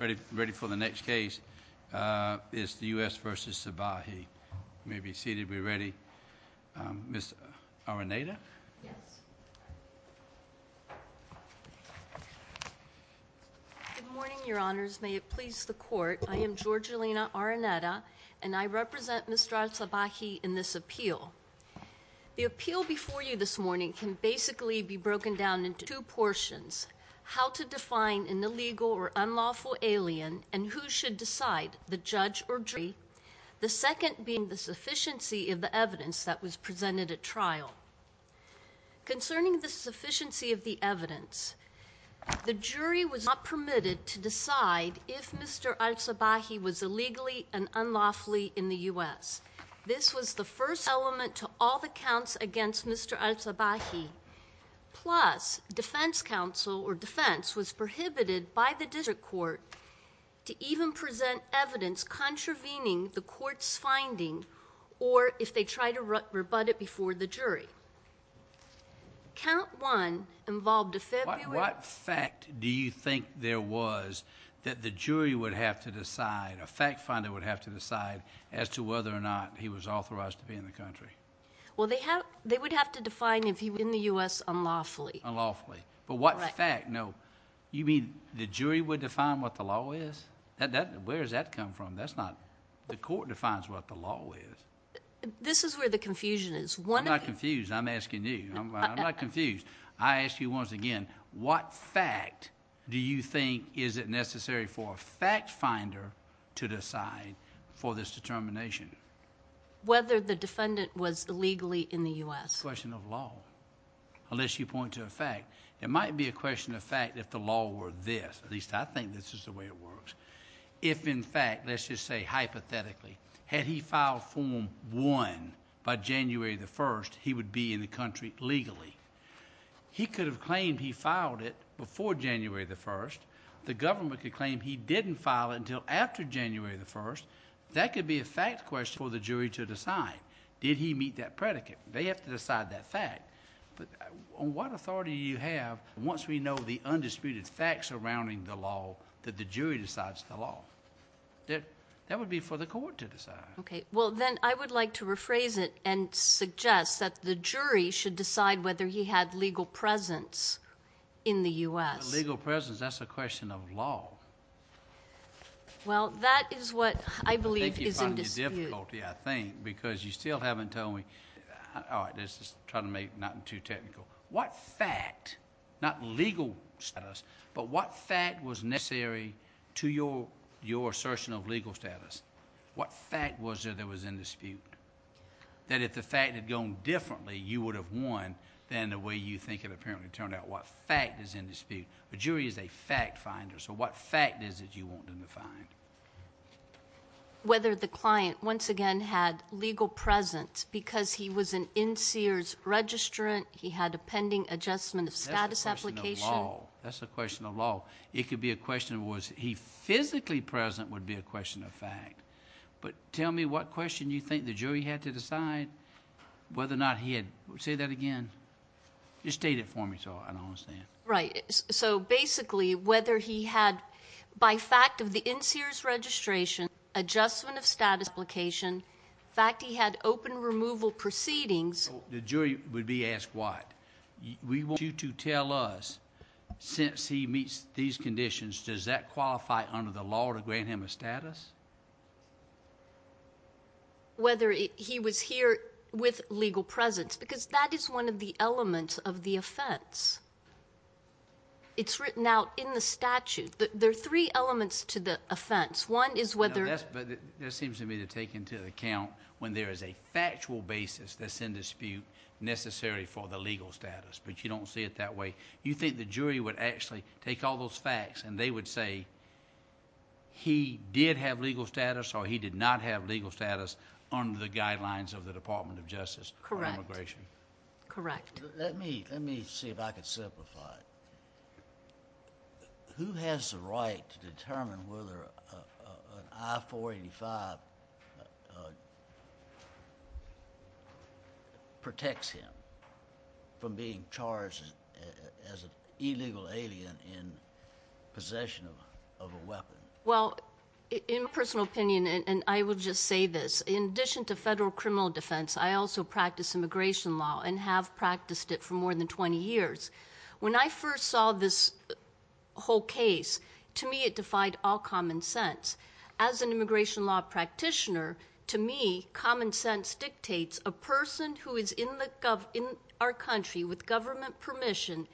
Ready for the next case. It's the U.S. v. Sabahi. You may be seated. We're ready. Ms. Araneta? Good morning, Your Honors. May it please the Court, I am Georgiina Araneta, and I represent Mr. Al Sabahi in this appeal. The appeal before you this morning can basically be broken down into two portions. How to define an illegal or alien and who should decide, the judge or jury, the second being the sufficiency of the evidence that was presented at trial. Concerning the sufficiency of the evidence, the jury was not permitted to decide if Mr. Al Sabahi was illegally and unlawfully in the U.S. This was the first element to all the counts against Mr. Al Sabahi. Plus, defense counsel or defense was prohibited by the district court to even present evidence contravening the court's finding or if they try to rebut it before the jury. Count one involved a February... What fact do you think there was that the jury would have to decide, a fact finder would have to decide, as to whether or not he was authorized to be in the country? Well, they would have to define if he was in the U.S. unlawfully. Unlawfully. But what fact? No, you mean the jury would define what the law is? Where does that come from? That's not... the court defines what the law is. This is where the confusion is. I'm not confused. I'm asking you. I'm not confused. I ask you once again, what fact do you think is it necessary for a fact finder to decide for this determination? Whether the defendant was illegally in the U.S. It's a question of law, unless you point to a fact. It might be a question of fact if the law were this. At least I think this is the way it works. If in fact, let's just say hypothetically, had he filed Form 1 by January the 1st, he would be in the country legally. He could have claimed he filed it before January the 1st. The government could claim he didn't file it until after January the 1st. That could be a fact question for the jury to decide. Did he meet that predicate? They have to decide that fact. But on what authority do you have, once we know the undisputed facts surrounding the law, that the jury decides the law? That would be for the court to decide. Okay. Well, then I would like to rephrase it and suggest that the jury should decide whether he had legal presence in the U.S. Legal presence, that's a question of law. Well, that is what I believe is in dispute. That's a difficulty, I think, because you still haven't told me, all right, let's just try to make nothing too technical. What fact, not legal status, but what fact was necessary to your assertion of legal status? What fact was there that was in dispute? That if the fact had gone differently, you would have won than the way you think it apparently turned out. What fact is in dispute? The jury is a fact finder, so what fact is it you want them to find? Whether the client, once again, had legal presence because he was an NSEERS registrant, he had a pending adjustment of status application. That's a question of law. It could be a question of was he physically present would be a question of fact. But tell me what question you think the jury had to decide whether or not he had, say that again. You state it for me so I don't understand. Right, so basically whether he had, by fact of the NSEERS registration, adjustment of status application, fact he had open removal proceedings. The jury would be asked what? We want you to tell us, since he meets these conditions, does that qualify under the law to grant him a status? Whether he was here with legal presence because that is one of the elements of the offense. It's written out in the statute. There are three elements to the offense. One is whether... He did not have legal status or he did not have legal status under the guidelines of the Department of Justice on immigration. Correct. Let me see if I can simplify it. Who has the right to determine whether an I-485 protects him from being charged as an illegal alien in possession of a weapon? Well, in personal opinion, and I will just say this, in addition to federal criminal defense, I also practice immigration law and have practiced it for more than 20 years. When I first saw this whole case, to me it defied all common sense. As an immigration law practitioner, to me common sense dictates a person who is in our country with government permission...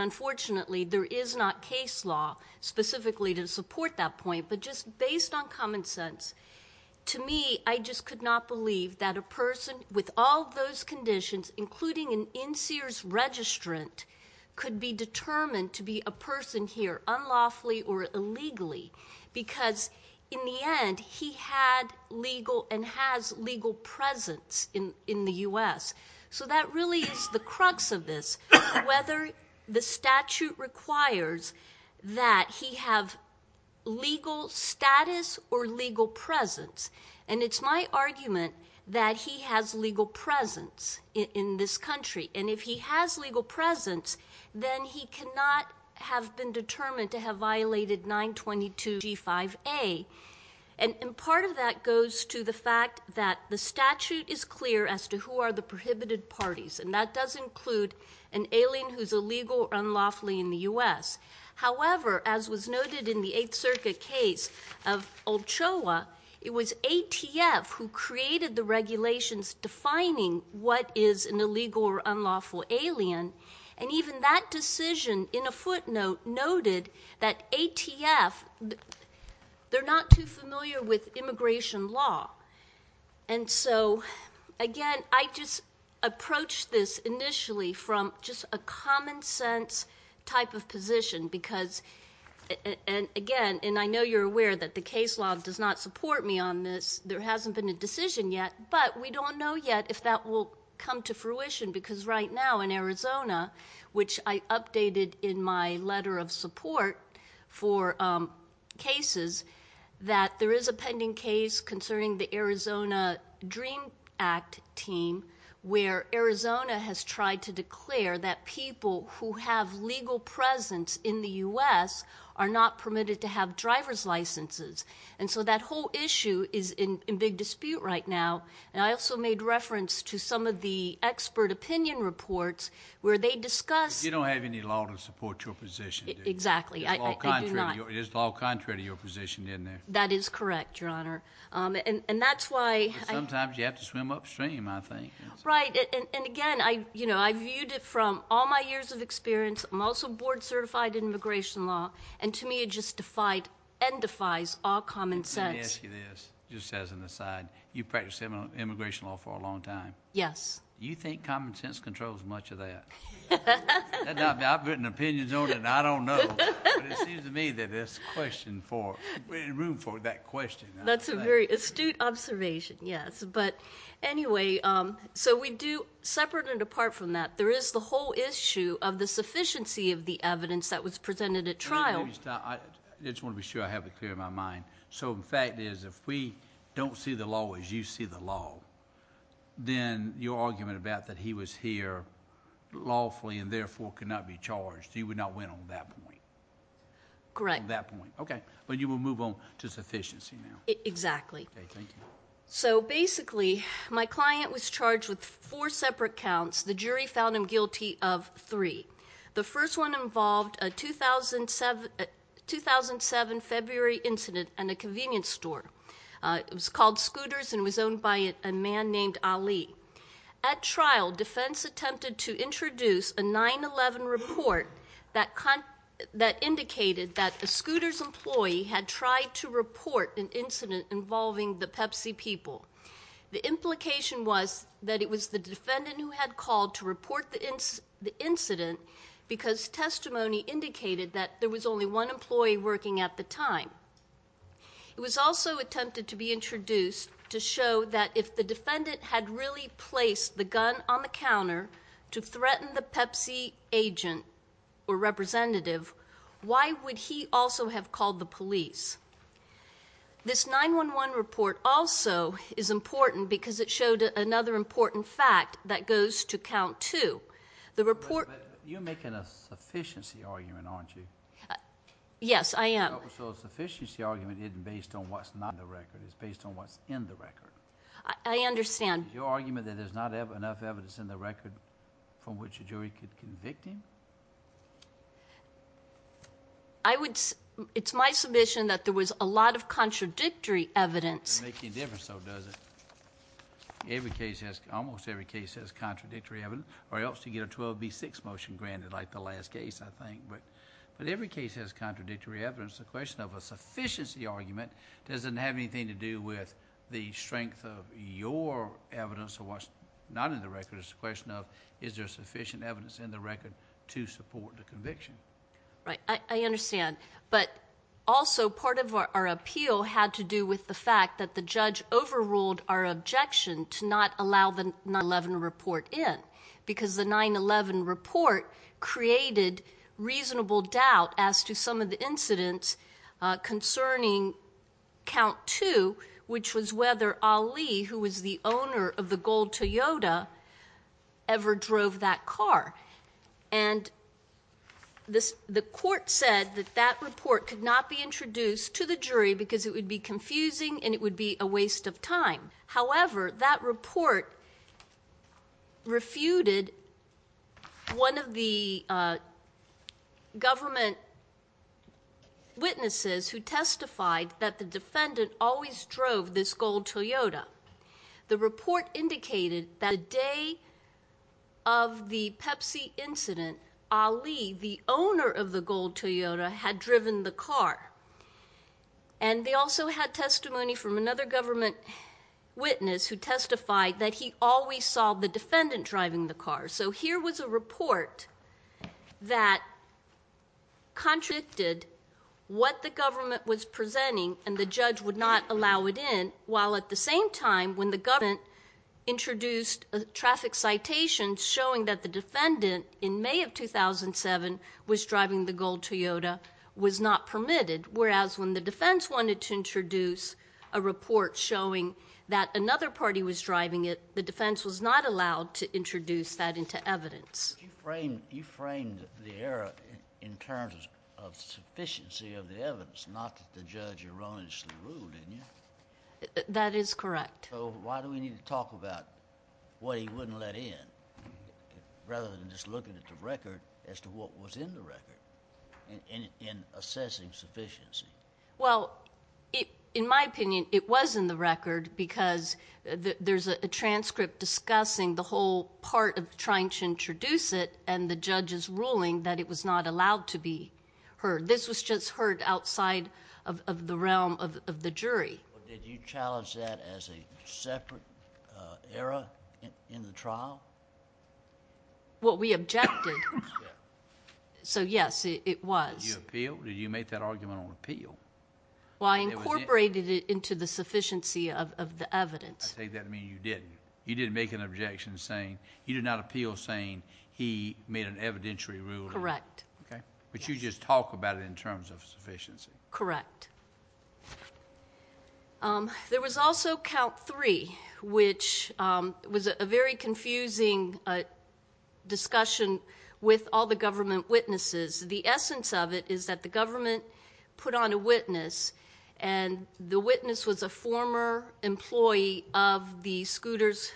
Unfortunately, there is not case law specifically to support that point, but just based on common sense. To me, I just could not believe that a person with all those conditions, including an NSEERS registrant... The statute requires that he have legal status or legal presence. And, it's my argument that he has legal presence in this country. And, if he has legal presence, then he cannot have been determined to have violated 922 G5A. And, part of that goes to the fact that the statute is clear as to who are the prohibited parties. And, that does include an alien who is illegal or unlawfully in the U.S. However, as was noted in the 8th Circuit case of Ochoa, it was ATF who created the regulations defining what is an illegal or unlawful alien. And, even that decision in a footnote noted that ATF... Because, and again, and I know you're aware that the case law does not support me on this. There hasn't been a decision yet, but we don't know yet if that will come to fruition. are not permitted to have driver's licenses. And so, that whole issue is in big dispute right now. And, I also made reference to some of the expert opinion reports where they discuss... You don't have any law to support your position. Exactly. I do not. There's law contrary to your position, isn't there? That is correct, Your Honor. And, that's why... Sometimes, you have to swim upstream, I think. Right. And, again, I viewed it from all my years of experience. I'm also board certified in immigration law. And, to me, it just defied and defies all common sense. Let me ask you this, just as an aside. You've practiced immigration law for a long time. Yes. Do you think common sense controls much of that? I've written opinions on it, and I don't know. But, it seems to me that there's room for that question. That's a very astute observation, yes. But, anyway, so we do... separate and apart from that, there is the whole issue of the sufficiency of the evidence that was presented at trial. I just want to be sure I have it clear in my mind. So, the fact is, if we don't see the law as you see the law, then your argument about that he was here lawfully and, therefore, could not be charged, you would not win on that point. Correct. Okay. But, you will move on to sufficiency now. Exactly. Okay. Thank you. So, basically, my client was charged with four separate counts. The jury found him guilty of three. The first one involved a 2007 February incident and a convenience store. It was called Scooters and was owned by a man named Ali. At trial, defense attempted to introduce a 9-11 report that indicated that a Scooters employee had tried to report an incident involving the Pepsi people. The implication was that it was the defendant who had called to report the incident because testimony indicated that there was only one employee working at the time. It was also attempted to be introduced to show that if the defendant had really placed the gun on the counter to threaten the Pepsi agent or representative, why would he also have called the police? This 9-11 report also is important because it showed another important fact that goes to count two. You're making a sufficiency argument, aren't you? Yes, I am. So, a sufficiency argument isn't based on what's not in the record. It's based on what's in the record. I understand. Is your argument that there's not enough evidence in the record from which a jury could convict him? It's my submission that there was a lot of contradictory evidence. It doesn't make any difference, though, does it? Almost every case has contradictory evidence or else you get a 12B6 motion granted like the last case, I think. But every case has contradictory evidence. The question of a sufficiency argument doesn't have anything to do with the strength of your evidence or what's not in the record. It's a question of is there sufficient evidence in the record to support the conviction. Right. I understand. But also part of our appeal had to do with the fact that the judge overruled our objection to not allow the 9-11 report in. Because the 9-11 report created reasonable doubt as to some of the incidents concerning count two, which was whether Ali, who was the owner of the gold Toyota, ever drove that car. And the court said that that report could not be introduced to the jury because it would be confusing and it would be a waste of time. However, that report refuted one of the government witnesses who testified that the defendant always drove this gold Toyota. The report indicated that the day of the Pepsi incident, Ali, the owner of the gold Toyota, had driven the car. And they also had testimony from another government witness who testified that he always saw the defendant driving the car. So here was a report that contradicted what the government was presenting and the judge would not allow it in. While at the same time, when the government introduced traffic citations showing that the defendant, in May of 2007, was driving the gold Toyota, was not permitted. Whereas when the defense wanted to introduce a report showing that another party was driving it, the defense was not allowed to introduce that into evidence. You framed the error in terms of sufficiency of the evidence, not that the judge erroneously ruled, didn't you? That is correct. So why do we need to talk about what he wouldn't let in, rather than just looking at the record as to what was in the record in assessing sufficiency? Well, in my opinion, it was in the record because there's a transcript discussing the whole part of trying to introduce it and the judge's ruling that it was not allowed to be heard. This was just heard outside of the realm of the jury. Did you challenge that as a separate error in the trial? Well, we objected. So, yes, it was. Did you appeal? Did you make that argument on appeal? Well, I incorporated it into the sufficiency of the evidence. I take that to mean you didn't. You didn't make an objection saying... you did not appeal saying he made an evidentiary ruling. Correct. But you just talk about it in terms of sufficiency. Correct. There was also count three, which was a very confusing discussion with all the government witnesses. The essence of it is that the government put on a witness, and the witness was a former employee of the Scooter's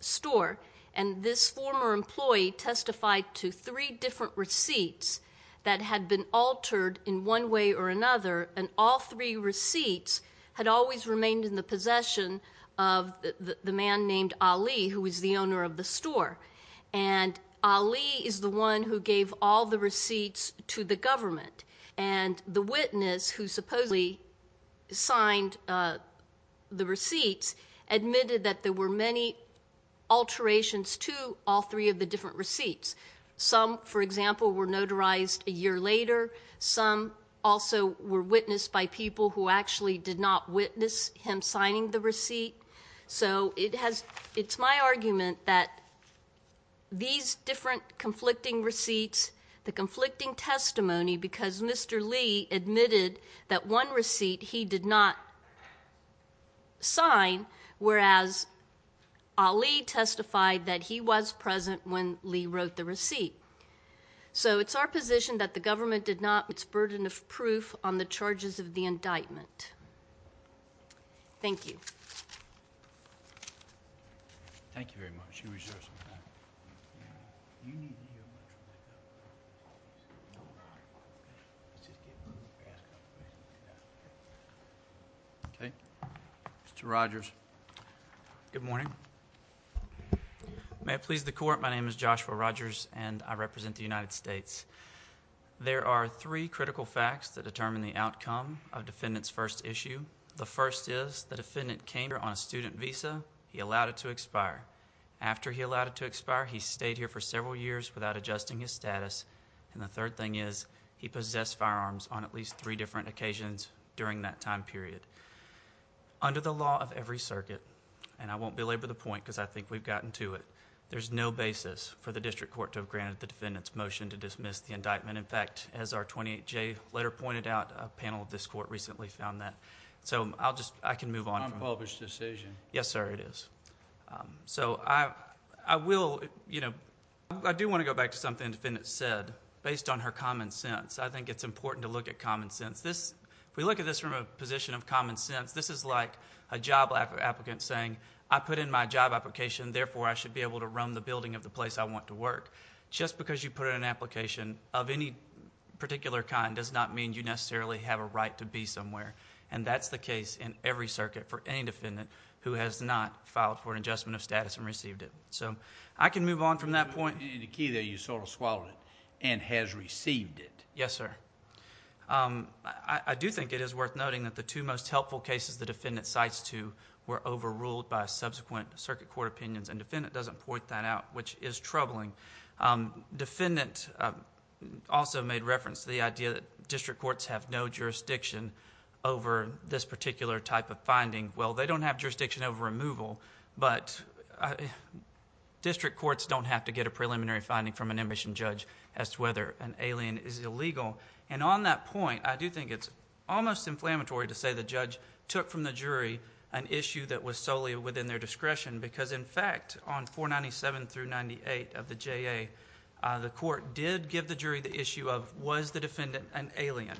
store, and this former employee testified to three different receipts that had been altered in one way or another, and all three receipts had always remained in the possession of the man named Ali, who was the owner of the store. And Ali is the one who gave all the receipts to the government. And the witness, who supposedly signed the receipts, admitted that there were many alterations to all three of the different receipts. Some, for example, were notarized a year later. Some also were witnessed by people who actually did not witness him signing the receipt. So it's my argument that these different conflicting receipts, the conflicting testimony, because Mr. Lee admitted that one receipt he did not sign, whereas Ali testified that he was present when Lee wrote the receipt. So it's our position that the government did not put its burden of proof on the charges of the indictment. Thank you. Thank you very much. Okay. Mr. Rogers. Good morning. May it please the Court, my name is Joshua Rogers, and I represent the United States. There are three critical facts that determine the outcome of defendant's first issue. The first is the defendant came here on a student visa, he allowed it to expire. After he allowed it to expire, he stayed here for several years without adjusting his status. And the third thing is he possessed firearms on at least three different occasions during that time period. Under the law of every circuit, and I won't belabor the point because I think we've gotten to it, there's no basis for the district court to have granted the defendant's motion to dismiss the indictment. In fact, as our 28J letter pointed out, a panel of this court recently found that. So I'll just... I can move on. Unpublished decision. Yes, sir, it is. So I will... I do want to go back to something the defendant said based on her common sense. I think it's important to look at common sense. If we look at this from a position of common sense, this is like a job applicant saying, I put in my job application, therefore I should be able to run the building of the place I want to work. Just because you put in an application of any particular kind does not mean you necessarily have a right to be somewhere. And that's the case in every circuit for any defendant who has not filed for an adjustment of status and received it. So I can move on from that point. In the key there, you swallowed it, and has received it. Yes, sir. I do think it is worth noting that the two most helpful cases the defendant cites to were overruled by subsequent circuit court opinions, and defendant doesn't point that out, which is troubling. Defendant also made reference to the idea that district courts have no jurisdiction over this particular type of finding. Well, they don't have jurisdiction over removal, but district courts don't have to get a preliminary finding from an ambition judge as to whether an alien is illegal. And on that point, I do think it's almost inflammatory to say the judge took from the jury an issue that was solely within their discretion, because in fact, on 497 through 98 of the JA, the court did give the jury the issue of, was the defendant an alien,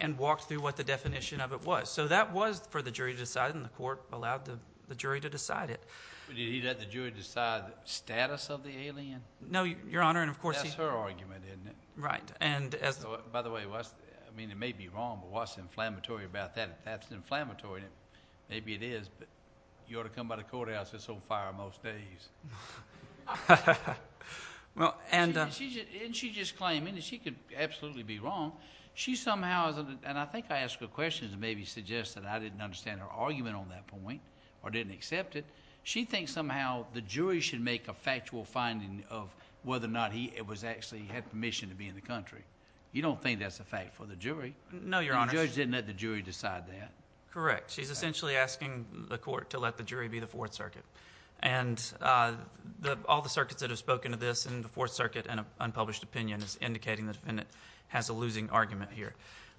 and walked through what the definition of it was. So that was for the jury to decide, and the court allowed the jury to decide it. Did he let the jury decide the status of the alien? No, Your Honor. That's her argument, isn't it? Right. By the way, it may be wrong, but what's inflammatory about that? If that's inflammatory, maybe it is, but you ought to come by the courthouse. It's on fire most days. And she just claimed, and she could absolutely be wrong. She somehow, and I think I asked her a question to maybe suggest that I didn't understand her argument on that point or didn't accept it. She thinks somehow the jury should make a factual finding of whether or not he actually had permission to be in the country. You don't think that's a fact for the jury. No, Your Honor. The judge didn't let the jury decide that. Correct. She's essentially asking the court to let the jury be the Fourth Circuit. And all the circuits that have spoken to this in the Fourth Circuit and unpublished opinion is indicating the defendant has a losing argument here.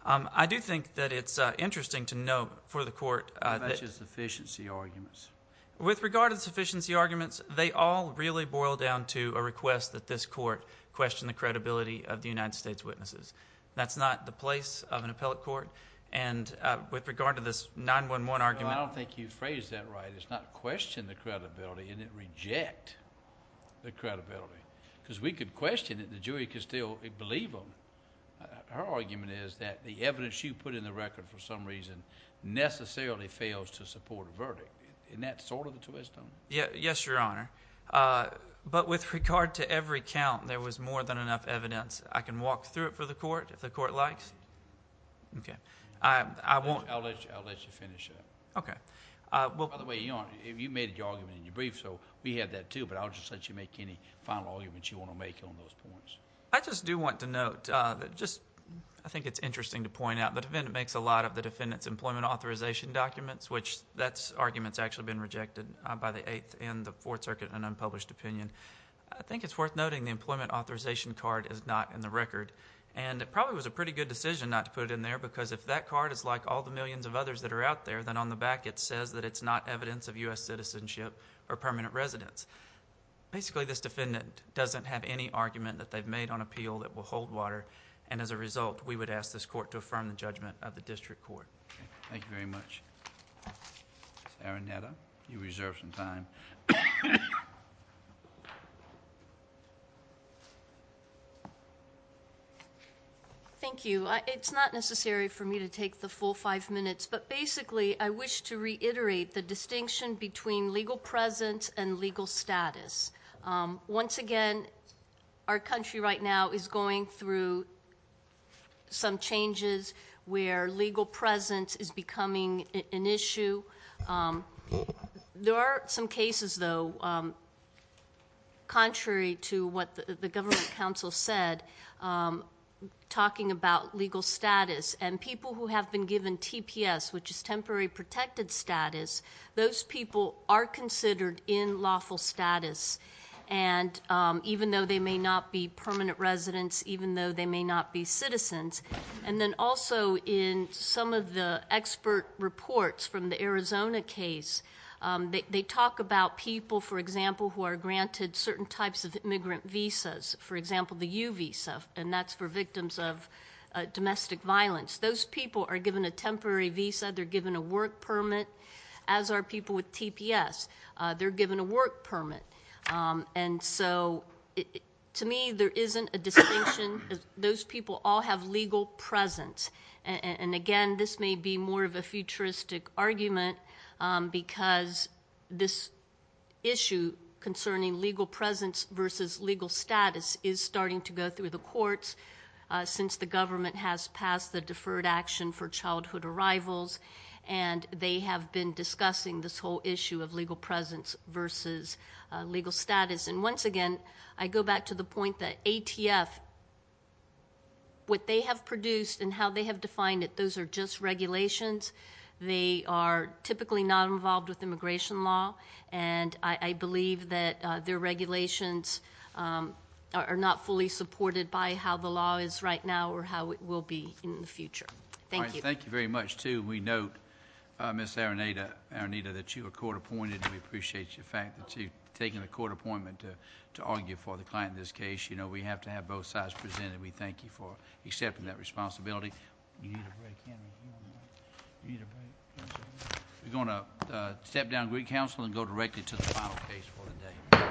I do think that it's interesting to note for the court that... That's just sufficiency arguments. With regard to the sufficiency arguments, they all really boil down to a request that this court question the credibility of the United States witnesses. That's not the place of an appellate court, and with regard to this 9-1-1 argument... I don't think you phrased that right. It's not question the credibility, and it reject the credibility. Because we could question it, and the jury could still believe them. Her argument is that the evidence you put in the record for some reason necessarily fails to support a verdict. Isn't that sort of the twist on it? Yes, Your Honor. But with regard to every count, there was more than enough evidence. I can walk through it for the court if the court likes. Okay. I won't... I'll let you finish it. Okay. By the way, Your Honor, you made your argument in your brief, so we have that, too. But I'll just let you make any final arguments you want to make on those points. I just do want to note... I think it's interesting to point out the defendant makes a lot of the defendant's employment authorization documents, which that argument's actually been rejected by the Eighth and the Fourth Circuit in an unpublished opinion. I think it's worth noting the employment authorization card is not in the record. And it probably was a pretty good decision not to put it in there. Because if that card is like all the millions of others that are out there, then on the back it says that it's not evidence of U.S. citizenship or permanent residence. Basically, this defendant doesn't have any argument that they've made on appeal that will hold water. And as a result, we would ask this court to affirm the judgment of the district court. Okay. Thank you very much. Ms. Araneta, you reserve some time. Thank you. It's not necessary for me to take the full five minutes. But basically, I wish to reiterate the distinction between legal presence and legal status. Once again, our country right now is going through some changes where legal presence is becoming an issue. There are some cases, though, contrary to what the government council said, talking about legal status. And people who have been given TPS, which is temporary protected status, those people are considered in lawful status. And even though they may not be permanent residents, even though they may not be citizens. And then also in some of the expert reports from the Arizona case, they talk about people, for example, who are granted certain types of immigrant visas. For example, the U visa, and that's for victims of domestic violence. Those people are given a temporary visa. They're given a work permit. As are people with TPS. They're given a work permit. And so to me, there isn't a distinction. Those people all have legal presence. And again, this may be more of a futuristic argument because this issue concerning legal presence versus legal status is starting to go through the courts since the government has passed the deferred action for childhood arrivals. And they have been discussing this whole issue of legal presence versus legal status. And once again, I go back to the point that ATF, what they have produced and how they have defined it, those are just regulations. They are typically not involved with immigration law. And I believe that their regulations are not fully supported by how the law is right now or how it will be in the future. Thank you. Thank you very much, too. And we note, Ms. Aranita, that you were court appointed. We appreciate the fact that you've taken a court appointment to argue for the client in this case. We have to have both sides presented. We thank you for accepting that responsibility. You need a break, Henry. You need a break. We're going to step down Greek Council and go directly to the final case for the day.